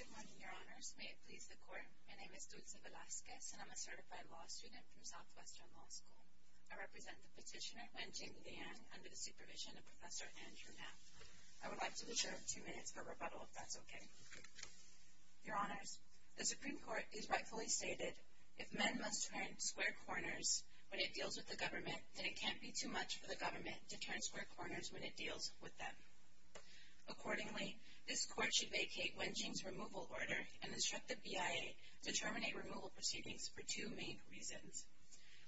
Good morning, Your Honors. May it please the Court, my name is Dulce Velazquez and I'm a certified law student from Southwestern Law School. I represent the petitioner Wenjin Liang under the supervision of Professor Andrew Mapp. I would like to reserve two minutes for rebuttal, if that's okay. Your Honors, the Supreme Court has rightfully stated, if men must turn square corners when it deals with the government, then it can't be too much for the government to turn square corners when it deals with them. Accordingly, this Court should vacate Wenjin's removal order and instruct the BIA to terminate removal proceedings for two main reasons.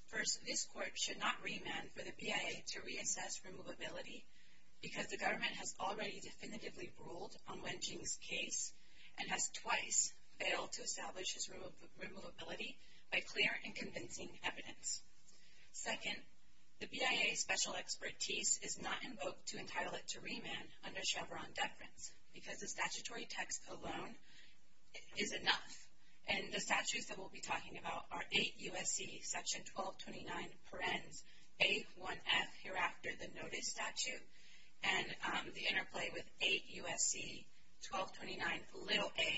First, this Court should not remand for the BIA to reassess removability because the government has already definitively ruled on Wenjin's case and has twice failed to establish his removability by clear and convincing evidence. Second, the BIA's special expertise is not invoked to entitle it to remand under Chevron deference because the statutory text alone is enough. And the statutes that we'll be talking about are 8 U.S.C. 1229 parens A1F, hereafter the notice statute, and the interplay with 8 U.S.C. 1229 a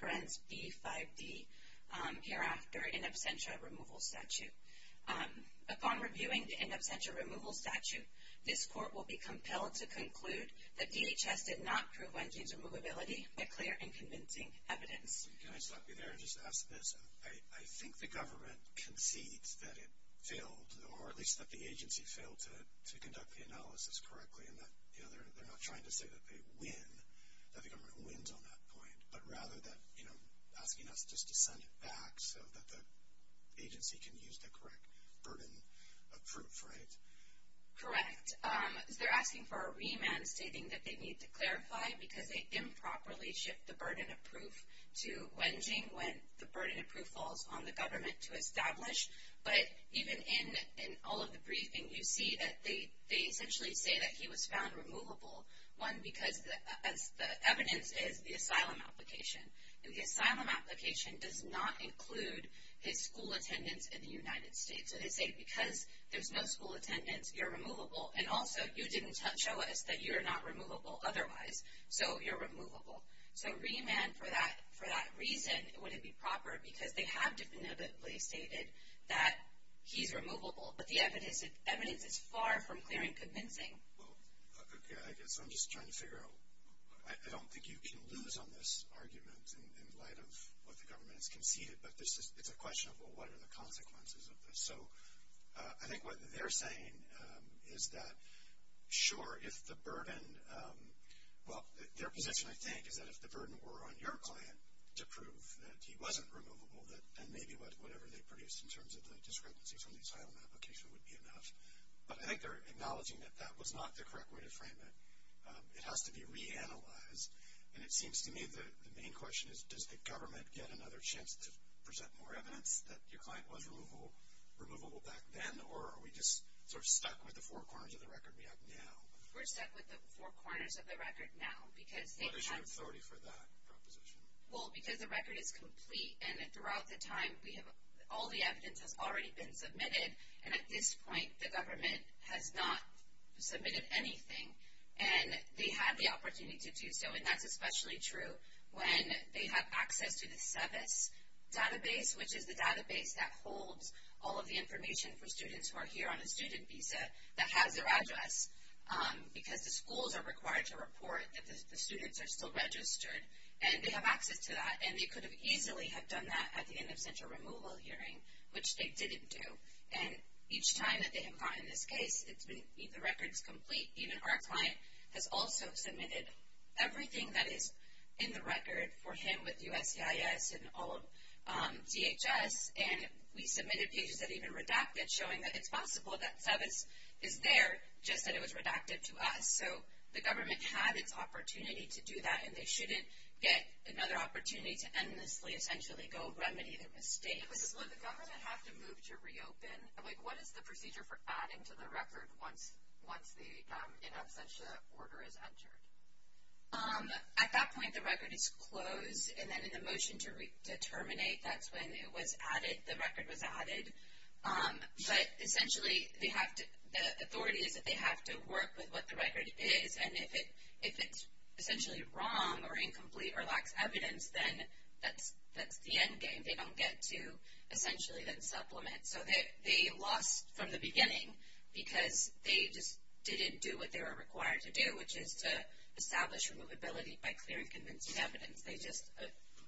parens B5D, hereafter in absentia removal statute. Upon reviewing the in absentia removal statute, this Court will be compelled to conclude that DHS did not prove Wenjin's removability by clear and convincing evidence. Can I stop you there and just ask this? I think the government concedes that it failed, or at least that the agency failed to conduct the analysis correctly and that they're not trying to say that they win, that the government wins on that point, but rather that, you know, asking us just to send it back so that the agency can use the correct burden of proof, right? Correct. They're asking for a remand stating that they need to clarify because they improperly shift the burden of proof to Wenjin when the burden of proof falls on the government to establish. But even in all of the briefing, you see that they essentially say that he was found removable. One, because the evidence is the asylum application. And the asylum application does not include his school attendance in the United States. So they say because there's no school attendance, you're removable. And also, you didn't show us that you're not removable otherwise, so you're removable. So a remand for that reason wouldn't be proper because they have definitively stated that he's removable. But the evidence is far from clear and convincing. Well, okay, I guess I'm just trying to figure out. I don't think you can lose on this argument in light of what the government has conceded, but it's a question of, well, what are the consequences of this? So I think what they're saying is that, sure, if the burden, well, their position, I think, is that if the burden were on your client to prove that he wasn't removable, then maybe whatever they produced in terms of the discrepancy from the asylum application would be enough. But I think they're acknowledging that that was not the correct way to frame it. It has to be reanalyzed. And it seems to me the main question is, does the government get another chance to present more evidence that your client was removable back then, or are we just sort of stuck with the four corners of the record we have now? We're stuck with the four corners of the record now because they have. What is your authority for that proposition? Well, because the record is complete, and throughout the time, all the evidence has already been submitted. And at this point, the government has not submitted anything. And they have the opportunity to do so, and that's especially true when they have access to the SEVIS database, which is the database that holds all of the information for students who are here on a student visa that has their address. Because the schools are required to report that the students are still registered, and they have access to that. And they could have easily have done that at the end of central removal hearing, which they didn't do. And each time that they have gotten this case, the record is complete. Even our client has also submitted everything that is in the record for him with USCIS and all of DHS. And we submitted pages that even redacted showing that it's possible that SEVIS is there, just that it was redacted to us. So the government had its opportunity to do that, and they shouldn't get another opportunity to endlessly essentially go remedy their mistakes. So would the government have to move to reopen? Like, what is the procedure for adding to the record once the in absentia order is entered? At that point, the record is closed. And then in the motion to terminate, that's when it was added, the record was added. But essentially, the authority is that they have to work with what the record is. And if it's essentially wrong or incomplete or lacks evidence, then that's the end game. They don't get to essentially then supplement. So they lost from the beginning because they just didn't do what they were required to do, which is to establish removability by clearing convincing evidence. They just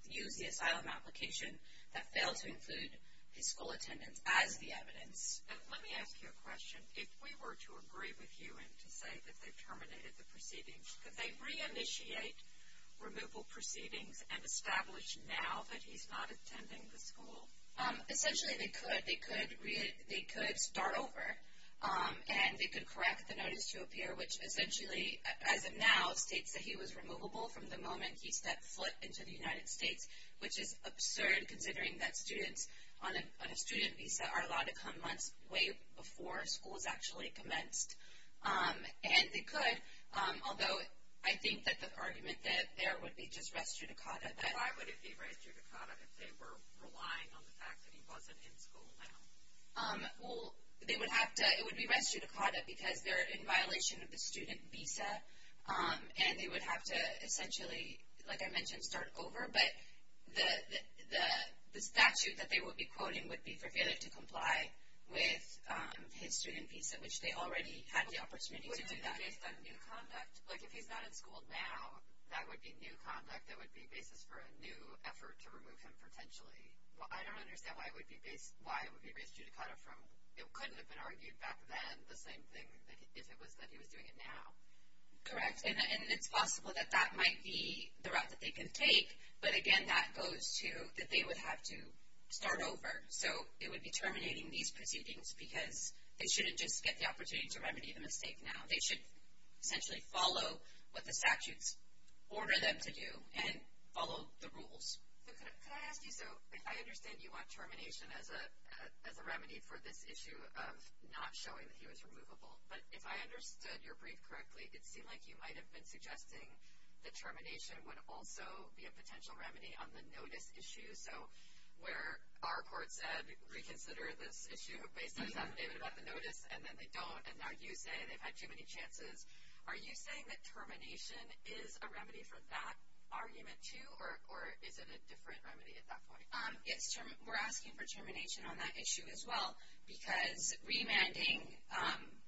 used the asylum application that failed to include his school attendance as the evidence. Let me ask you a question. If we were to agree with you and to say that they terminated the proceedings, could they reinitiate removal proceedings and establish now that he's not attending the school? Essentially, they could. They could start over, and they could correct the notice to appear, which essentially as of now states that he was removable from the moment he stepped foot into the United States, which is absurd considering that students on a student visa are allowed to come months way before school is actually commenced. And they could, although I think that the argument that there would be just res judicata. Why would it be res judicata if they were relying on the fact that he wasn't in school now? Well, they would have to. It would be res judicata because they're in violation of the student visa, and they would have to essentially, like I mentioned, start over. But the statute that they would be quoting would be for failure to comply with his student visa, which they already had the opportunity to do that. But wouldn't it be based on new conduct? Like if he's not in school now, that would be new conduct. That would be basis for a new effort to remove him potentially. I don't understand why it would be res judicata from, it couldn't have been argued back then, the same thing if it was that he was doing it now. Correct. And it's possible that that might be the route that they can take. But again, that goes to that they would have to start over. So it would be terminating these proceedings because they shouldn't just get the opportunity to remedy the mistake now. They should essentially follow what the statutes order them to do and follow the rules. Could I ask you, so I understand you want termination as a remedy for this issue of not showing that he was removable. But if I understood your brief correctly, it seemed like you might have been suggesting that termination would also be a potential remedy on the notice issue. So where our court said reconsider this issue based on his affidavit about the notice, and then they don't. And now you say they've had too many chances. Are you saying that termination is a remedy for that argument too, or is it a different remedy at that point? We're asking for termination on that issue as well. Because remanding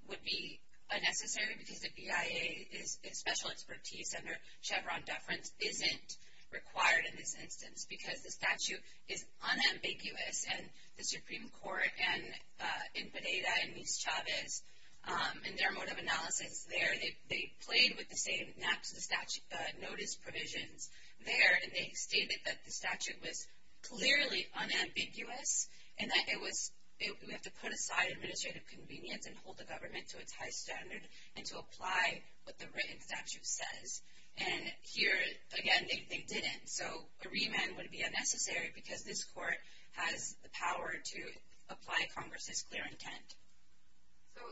would be unnecessary because the BIA's special expertise under Chevron deference isn't required in this instance. Because the statute is unambiguous. And the Supreme Court in Pineda and Mis-Chavez, in their mode of analysis there, they played with the same notice provisions there, and they stated that the statute was clearly unambiguous. And that it was, we have to put aside administrative convenience and hold the government to its high standard and to apply what the written statute says. And here, again, they didn't. So a remand would be unnecessary because this court has the power to apply Congress's clear intent. So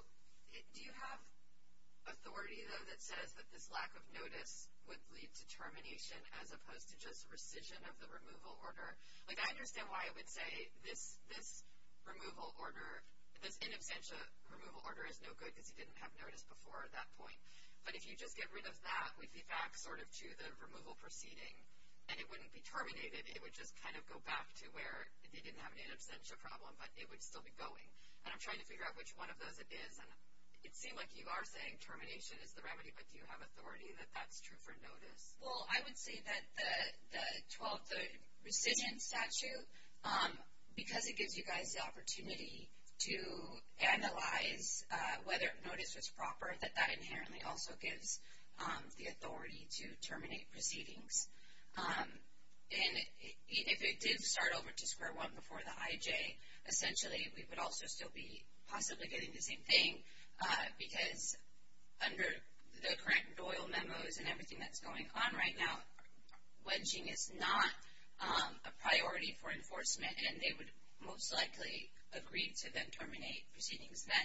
do you have authority, though, that says that this lack of notice would lead to termination as opposed to just rescission of the removal order? Like, I understand why it would say this removal order, this in absentia removal order is no good because you didn't have notice before at that point. But if you just get rid of that, we'd be back sort of to the removal proceeding. And it wouldn't be terminated. It would just kind of go back to where they didn't have an in absentia problem, but it would still be going. And I'm trying to figure out which one of those it is. And it seemed like you are saying termination is the remedy, but do you have authority that that's true for notice? Well, I would say that the 12th, the rescission statute, because it gives you guys the opportunity to analyze whether notice was proper, that that inherently also gives the authority to terminate proceedings. And if it did start over to square one before the IJ, essentially we would also still be possibly getting the same thing because under the current Doyle memos and everything that's going on right now, wedging is not a priority for enforcement, and they would most likely agree to then terminate proceedings then.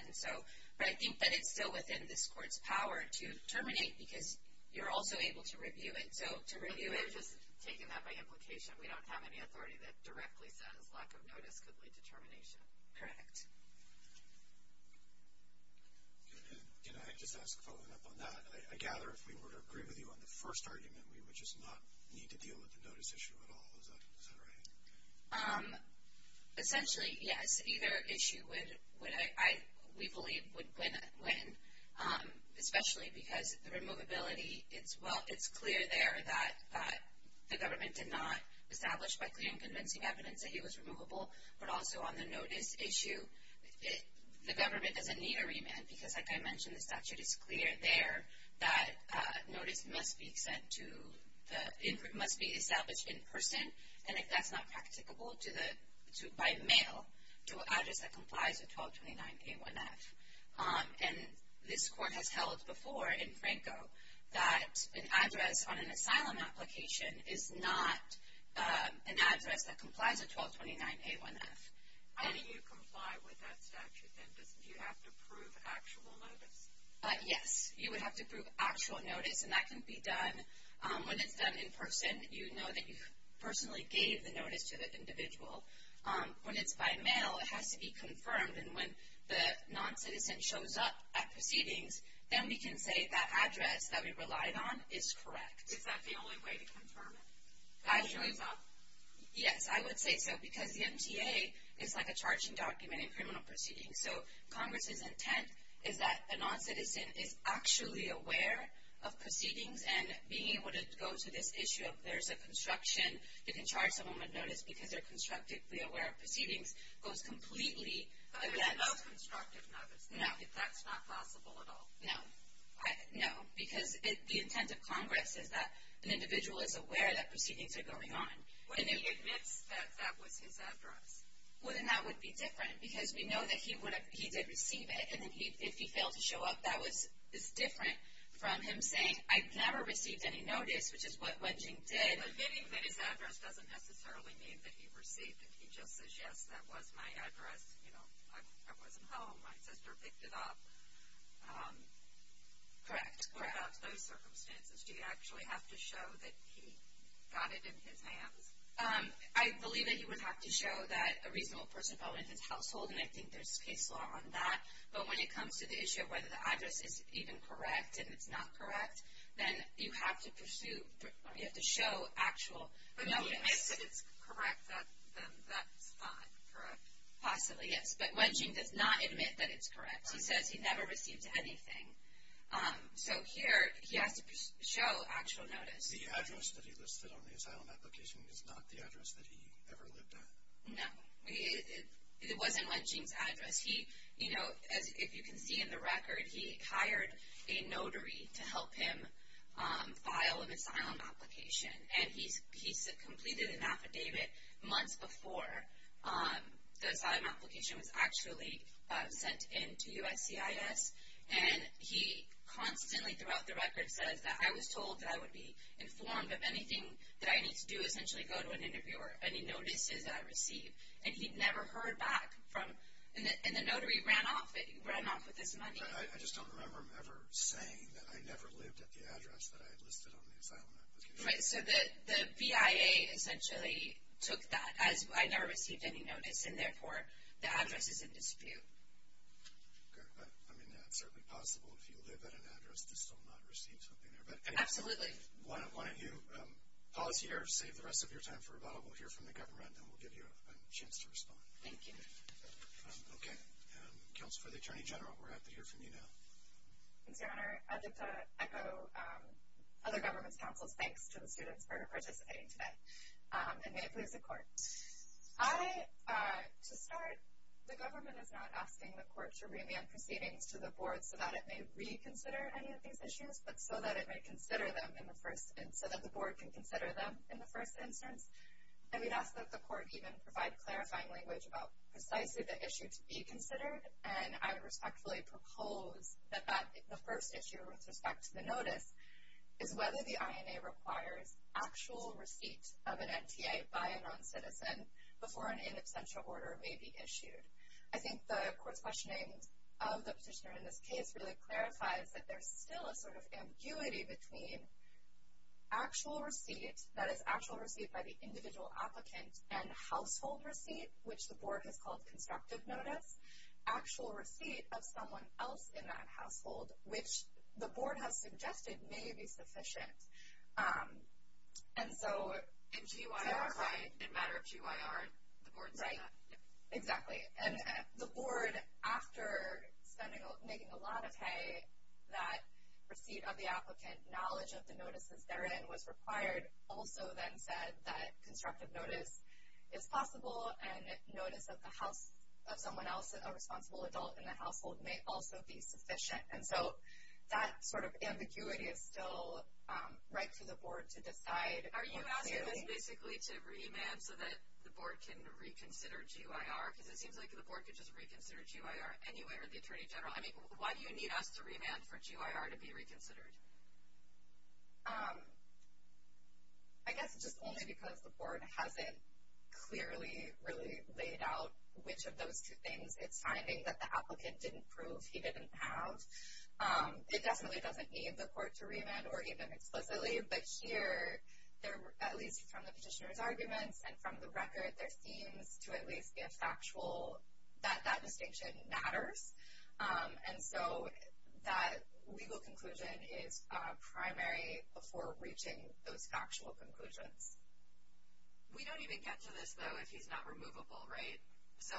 But I think that it's still within this court's power to terminate because you're also able to review it. So to review it. We're just taking that by implication. We don't have any authority that directly says lack of notice could lead to termination. Correct. Can I just ask, following up on that, I gather if we were to agree with you on the first argument, we would just not need to deal with the notice issue at all. Is that right? Essentially, yes. Either issue would, we believe, would win, especially because the removability, it's clear there that the government did not establish by clear and convincing evidence that he was removable, but also on the notice issue, the government doesn't need a remand because, like I mentioned, the statute is clear there that notice must be sent to, the input must be established in person, and if that's not practicable, by mail to an address that complies with 1229A1F. And this court has held before in Franco that an address on an asylum application is not an address that complies with 1229A1F. How do you comply with that statute, then? Do you have to prove actual notice? Yes. You would have to prove actual notice, and that can be done when it's done in person. You know that you personally gave the notice to the individual. When it's by mail, it has to be confirmed, and when the noncitizen shows up at proceedings, then we can say that address that we relied on is correct. Is that the only way to confirm it? Yes, I would say so, because the MTA is like a charging document in criminal proceedings. So Congress's intent is that a noncitizen is actually aware of proceedings, and being able to go to this issue of there's a construction, you can charge someone with notice because they're constructively aware of proceedings, goes completely. But that's not constructive notice. No. That's not possible at all. No. No, because the intent of Congress is that an individual is aware that proceedings are going on. But he admits that that was his address. Well, then that would be different, because we know that he did receive it, and if he failed to show up, that is different from him saying, I never received any notice, which is what Wenjing did. But admitting that his address doesn't necessarily mean that he received it. He just says, yes, that was my address. You know, I wasn't home. My sister picked it up. Correct. Perhaps those circumstances, do you actually have to show that he got it in his hands? I believe that he would have to show that a reasonable person fell into his household, and I think there's case law on that. But when it comes to the issue of whether the address is even correct and it's not correct, then you have to pursue, you have to show actual notice. If it's correct, then that's fine. Possibly, yes. But Wenjing does not admit that it's correct. He says he never received anything. So here he has to show actual notice. The address that he listed on the asylum application is not the address that he ever lived at. No. It wasn't Wenjing's address. You know, as you can see in the record, he hired a notary to help him file an asylum application, and he completed an affidavit months before the asylum application was actually sent in to USCIS, and he constantly throughout the record says that, I was told that I would be informed of anything that I need to do, essentially go to an interview or any notices that I receive. And he'd never heard back from, and the notary ran off with this money. I just don't remember him ever saying that I never lived at the address that I listed on the asylum application. Right, so the BIA essentially took that as I never received any notice, and therefore the address is in dispute. I mean, it's certainly possible if you live at an address that still not received something there. Absolutely. Why don't you pause here, save the rest of your time for a while. We'll hear from the government, and we'll give you a chance to respond. Thank you. Okay. Thanks, Your Honor. I'd like to echo other government's counsel's thanks to the students for participating today, and may it please the Court. I, to start, the government is not asking the Court to remand proceedings to the Board so that it may reconsider any of these issues, but so that it may consider them in the first instance, so that the Board can consider them in the first instance. And we'd ask that the Court even provide clarifying language about precisely the issue to be considered, and I would respectfully propose that the first issue with respect to the notice is whether the INA requires actual receipt of an NTA by a noncitizen before an in absentia order may be issued. I think the Court's questioning of the petitioner in this case really clarifies that there's still a sort of ambiguity between actual receipt, that is, actual receipt by the individual applicant, and household receipt, which the Board has called constructive notice. Actual receipt of someone else in that household, which the Board has suggested may be sufficient. And so in matter of GYR, the Board said that. Right, exactly. And the Board, after making a lot of hay, that receipt of the applicant, knowledge of the notices therein was required, also then said that constructive notice is possible, and notice of someone else, a responsible adult in the household, may also be sufficient. And so that sort of ambiguity is still right for the Board to decide. Are you asking us basically to remand so that the Board can reconsider GYR? Because it seems like the Board could just reconsider GYR anywhere, the Attorney General. I mean, why do you need us to remand for GYR to be reconsidered? I guess just only because the Board hasn't clearly really laid out which of those two things it's finding that the applicant didn't prove he didn't have. It definitely doesn't need the Court to remand or even explicitly. But here, at least from the petitioner's arguments and from the record, there seems to at least be a factual that that distinction matters. And so that legal conclusion is primary before reaching those factual conclusions. We don't even get to this, though, if he's not removable, right? So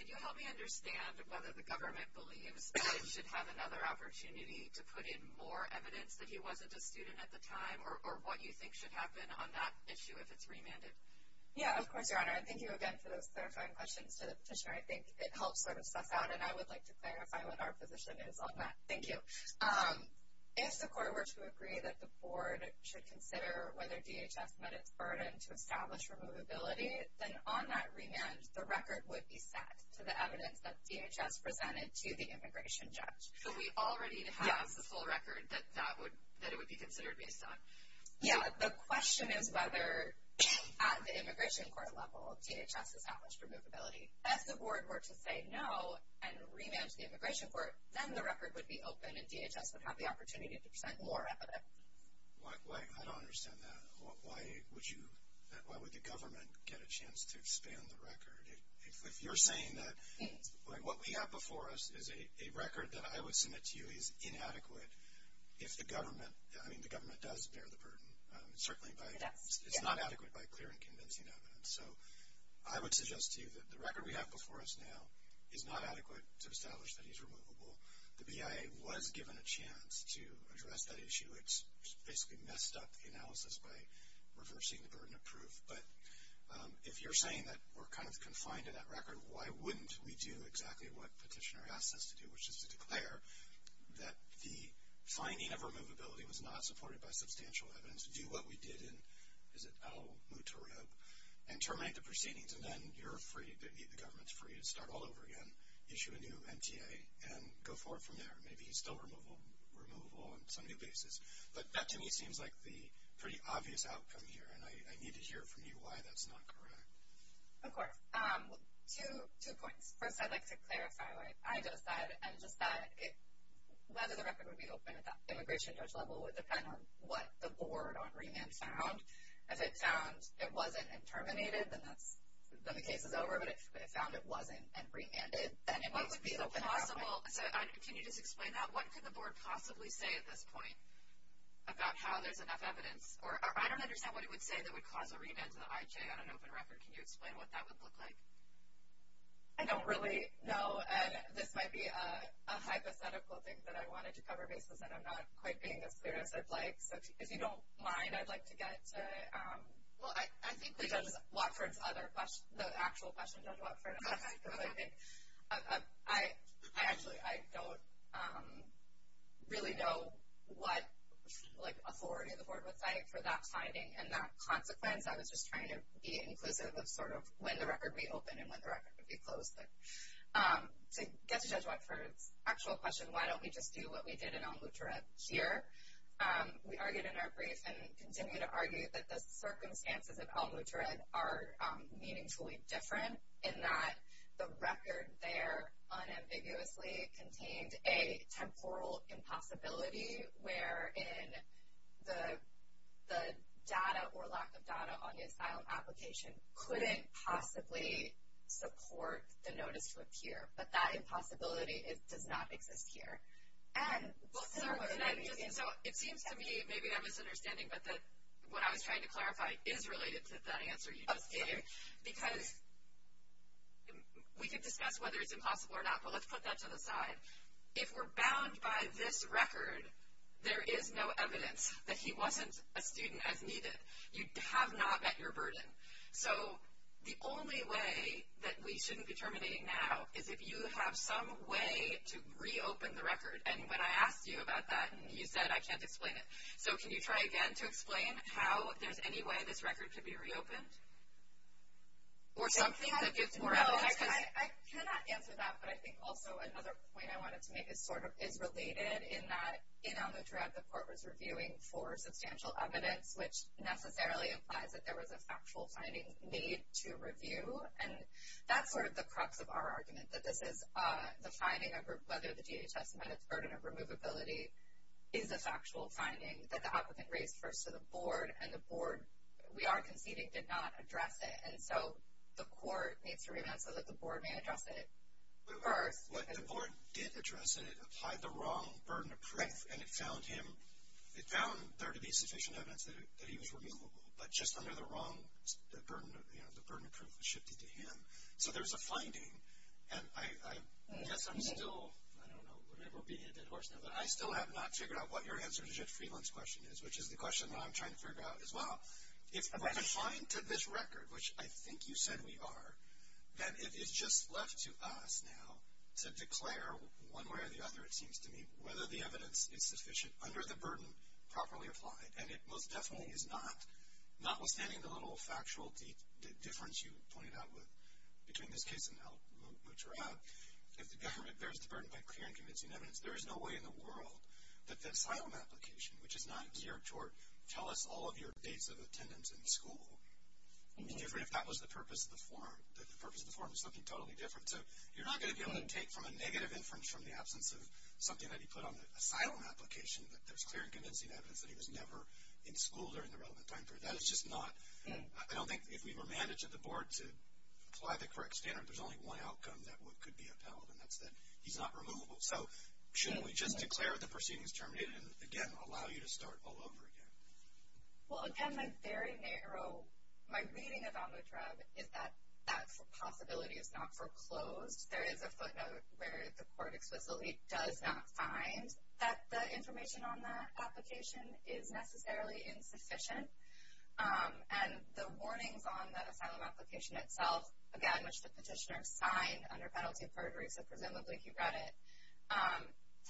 could you help me understand whether the government believes that it should have another opportunity to put in more evidence that he wasn't a student at the time, or what you think should happen on that issue if it's remanded? Yeah, of course, Your Honor. And thank you again for those clarifying questions to the petitioner. I think it helps sort of suss out, and I would like to clarify what our position is on that. Thank you. If the Court were to agree that the Board should consider whether DHS met its burden to establish removability, then on that remand, the record would be set to the evidence that DHS presented to the immigration judge. So we already have the full record that it would be considered based on. Yeah, the question is whether at the immigration court level DHS established removability. If the Board were to say no and remand to the immigration court, then the record would be open, and DHS would have the opportunity to present more evidence. I don't understand that. If you're saying that what we have before us is a record that I would submit to you is inadequate if the government, I mean the government does bear the burden, it's not adequate by clear and convincing evidence. So I would suggest to you that the record we have before us now is not adequate to establish that he's removable. The BIA was given a chance to address that issue. It's basically messed up the analysis by reversing the burden of proof. But if you're saying that we're kind of confined to that record, why wouldn't we do exactly what the petitioner asked us to do, which is to declare that the finding of removability was not supported by substantial evidence, do what we did in Al Mutarab, and terminate the proceedings. And then you're free, the government's free to start all over again, issue a new MTA, and go forward from there. Maybe he's still removable on some new basis. But that to me seems like the pretty obvious outcome here, and I need to hear from you why that's not correct. Of course. Two points. First, I'd like to clarify what I just said, and just that whether the record would be open at the immigration judge level would depend on what the board on remand found. If it found it wasn't and terminated, then the case is over. But if it found it wasn't and remanded, then it would be open at this point. Can you just explain that? What could the board possibly say at this point about how there's enough evidence? Or I don't understand what it would say that would cause a remand to the IJ on an open record. Can you explain what that would look like? I don't really know, and this might be a hypothetical thing that I wanted to cover, because I'm not quite being as clear as I'd like. So if you don't mind, I'd like to get to it. Well, I think the judge's other question, the actual question of Judge Watford, I actually don't really know what authority the board would cite for that finding and that consequence. I was just trying to be inclusive of sort of when the record would be open and when the record would be closed. To get to Judge Watford's actual question, why don't we just do what we did in El Moutared here, we argued in our brief and continue to argue that the circumstances of El Moutared are meaningfully different in that the record there unambiguously contained a temporal impossibility wherein the data or lack of data on the asylum application couldn't possibly support the notice to appear. But that impossibility does not exist here. So it seems to me, maybe I'm misunderstanding, but what I was trying to clarify is related to that answer you just gave. Because we could discuss whether it's impossible or not, but let's put that to the side. If we're bound by this record, there is no evidence that he wasn't a student as needed. You have not met your burden. So the only way that we shouldn't be terminating now is if you have some way to reopen the record. And when I asked you about that, you said, I can't explain it. So can you try again to explain how there's any way this record could be reopened? Or something that gives more evidence? I cannot answer that, but I think also another point I wanted to make is related in that in El Moutared, the court was reviewing for substantial evidence, which necessarily implies that there was a factual finding made to review. And that's sort of the crux of our argument, that this is the finding of whether the DHS met its burden of removability is a factual finding that the applicant raised first to the board. And the board, we are conceding, did not address it. And so the court needs to review that so that the board may address it first. But the board did address it. It applied the wrong burden of proof, and it found there to be sufficient evidence that he was removable. But just under the wrong burden of proof was shifted to him. So there's a finding, and I guess I'm still, I don't know, but I still have not figured out what your answer to Judge Friedland's question is, which is the question that I'm trying to figure out as well. It's confined to this record, which I think you said we are, that it is just left to us now to declare one way or the other, it seems to me, whether the evidence is sufficient under the burden properly applied. And it most definitely is not. Notwithstanding the little factual difference you pointed out between this case and El Moutared, if the government bears the burden by clear and convincing evidence, there is no way in the world that the asylum application, which is not key or short, tell us all of your dates of attendance in school, if that was the purpose of the form. The purpose of the form is something totally different. So you're not going to be able to take from a negative inference from the absence of something that he put on the asylum application that there's clear and convincing evidence that he was never in school during the relevant time period. That is just not, I don't think if we were managed at the board to apply the correct standard, there's only one outcome that could be upheld, and that's that he's not removable. So shouldn't we just declare the proceeding is terminated and, again, allow you to start all over again? Well, again, my very narrow, my reading of El Moutared is that that possibility is not foreclosed. There is a footnote where the court explicitly does not find that the information on that application is necessarily insufficient. And the warnings on that asylum application itself, again, which the petitioner signed under penalty of perjury, so presumably he read it,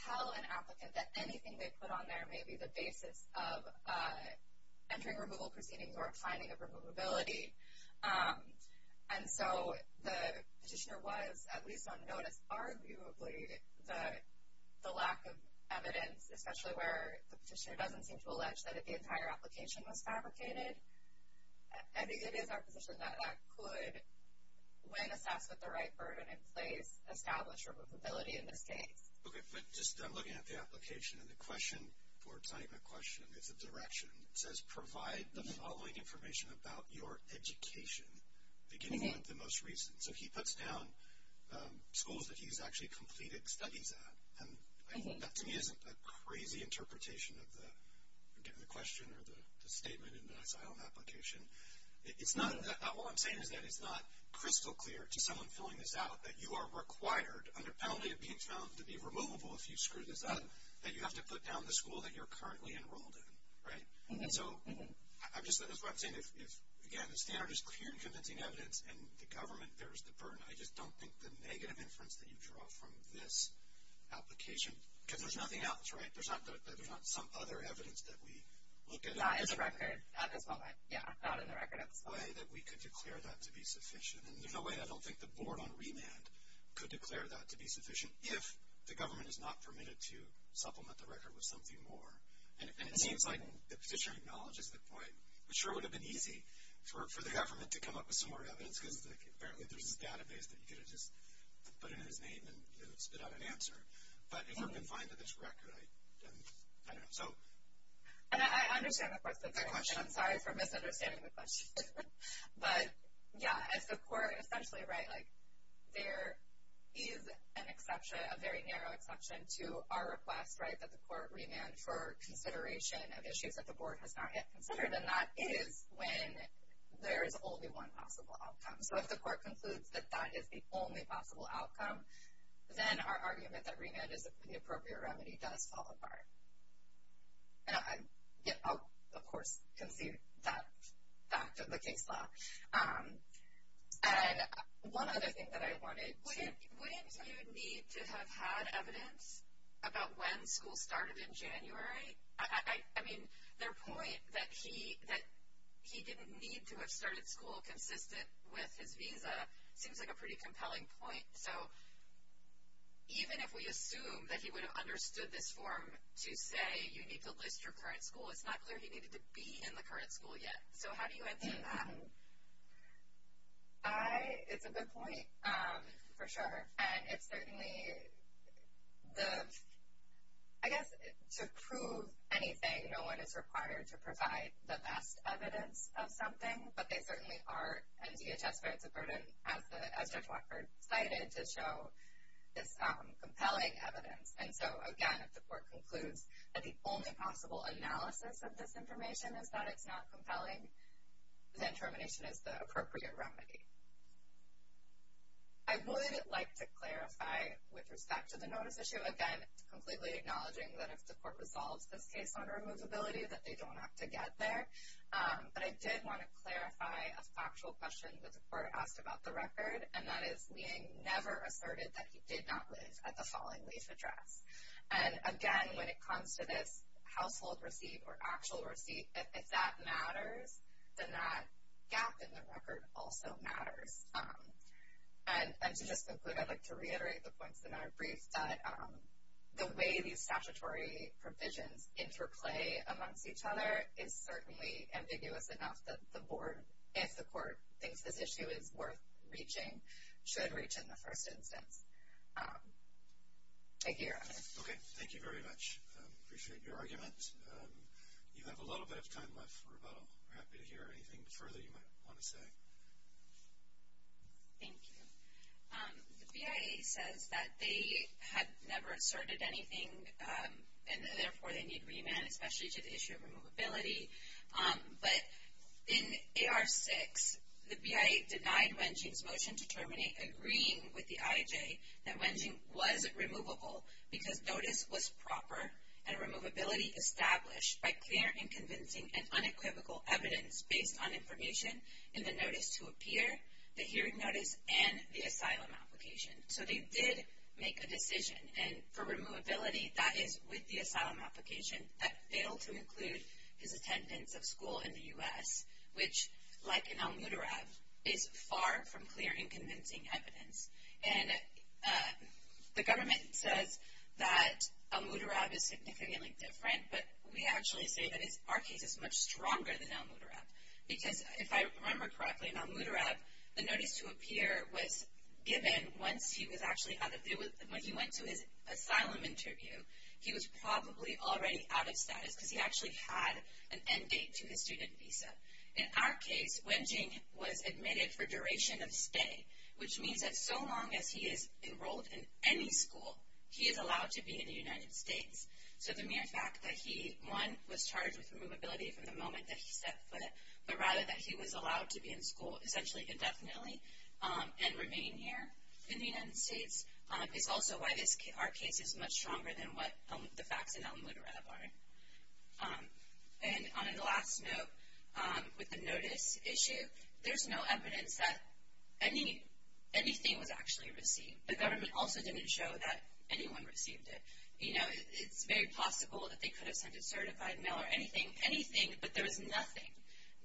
tell an applicant that anything they put on there may be the basis of entering removable proceedings or a finding of removability. And so the petitioner was, at least on notice, arguably the lack of evidence, especially where the petitioner doesn't seem to allege that the entire application was fabricated. I think it is our position that that could, when assessed with the right burden in place, establish removability in this case. Okay, but just looking at the application and the question for signing the question, it's a direction. It says provide the following information about your education, beginning with the most recent. So he puts down schools that he's actually completed studies at. And that, to me, isn't a crazy interpretation of the question or the statement in the asylum application. All I'm saying is that it's not crystal clear to someone filling this out that you are required, under penalty of being found to be removable if you screw this up, that you have to put down the school that you're currently enrolled in, right? So that's what I'm saying. If, again, the standard is clear and convincing evidence, and the government bears the burden, I just don't think the negative inference that you draw from this application, because there's nothing else, right? There's not some other evidence that we look at. Not as a record at this moment, yeah, not in the record at this moment. There's no way that we could declare that to be sufficient, and there's no way I don't think the board on remand could declare that to be sufficient if the government is not permitted to supplement the record with something more. And it seems like the petitioner acknowledges the point. It sure would have been easy for the government to come up with some more evidence, because apparently there's this database that you could have just put in his name and spit out an answer. But if we're confined to this record, I don't know. And I understand, of course, the question. I'm sorry for misunderstanding the question. But, yeah, if the court essentially, right, like there is an exception, a very narrow exception to our request, right, that the court remand for consideration of issues that the board has not yet considered, and that is when there is only one possible outcome. So if the court concludes that that is the only possible outcome, then our argument that remand is the appropriate remedy does fall apart. And I, of course, concede that to the case law. And one other thing that I wanted to – Wouldn't you need to have had evidence about when school started in January? I mean, their point that he didn't need to have started school consistent with his visa seems like a pretty compelling point. So even if we assume that he would have understood this form to say you need to list your current school, it's not clear he needed to be in the current school yet. So how do you answer that? It's a good point, for sure. And it's certainly the – I guess to prove anything, no one is required to provide the best evidence of something, but they certainly are in DHS where it's a burden, as Judge Walker cited, to show this compelling evidence. And so, again, if the court concludes that the only possible analysis of this information is that it's not compelling, then termination is the appropriate remedy. I would like to clarify, with respect to the notice issue, again, completely acknowledging that if the court resolves this case on removability, that they don't have to get there. But I did want to clarify a factual question that the court asked about the record, and that is Lieng never asserted that he did not live at the following lease address. And, again, when it comes to this household receipt or actual receipt, if that matters, then that gap in the record also matters. And to just conclude, I'd like to reiterate the points in our brief, that the way these statutory provisions interplay amongst each other is certainly ambiguous enough that the board, if the court thinks this issue is worth reaching, should reach in the first instance. Thank you, Your Honor. Okay. Thank you very much. I appreciate your argument. You have a little bit of time left for rebuttal. We're happy to hear anything further you might want to say. Thank you. The BIA says that they had never asserted anything, and therefore they need remand, especially to the issue of removability. But in AR 6, the BIA denied Wenjing's motion to terminate, agreeing with the IJ, that Wenjing was removable because notice was proper, and removability established by clear and convincing and unequivocal evidence based on information in the notice to appear, the hearing notice, and the asylum application. So they did make a decision, and for removability, that is with the asylum application, that failed to include his attendance of school in the U.S., which, like an al mutarab, is far from clear and convincing evidence. And the government says that al mutarab is significantly different, but we actually say that our case is much stronger than al mutarab. Because if I remember correctly, an al mutarab, the notice to appear was given once he was actually out of the, when he went to his asylum interview, he was probably already out of status, because he actually had an end date to his student visa. In our case, Wenjing was admitted for duration of stay, which means that so long as he is enrolled in any school, he is allowed to be in the United States. So the mere fact that he, one, was charged with removability from the moment that he set foot, but rather that he was allowed to be in school essentially indefinitely and remain here in the United States, is also why our case is much stronger than what the facts in al mutarab are. And on the last note, with the notice issue, there's no evidence that anything was actually received. The government also didn't show that anyone received it. You know, it's very possible that they could have sent a certified mail or anything, anything, but there was nothing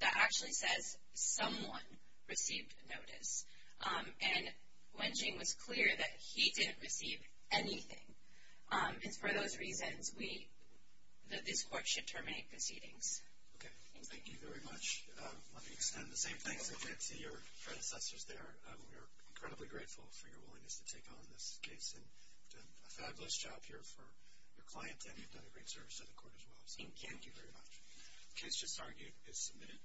that actually says someone received notice. And Wenjing was clear that he didn't receive anything. And for those reasons, this court should terminate proceedings. Okay. Thank you very much. Let me extend the same thanks again to your predecessors there. We are incredibly grateful for your willingness to take on this case. You've done a fabulous job here for your client, and you've done a great service to the court as well. Thank you very much. The case just argued is submitted.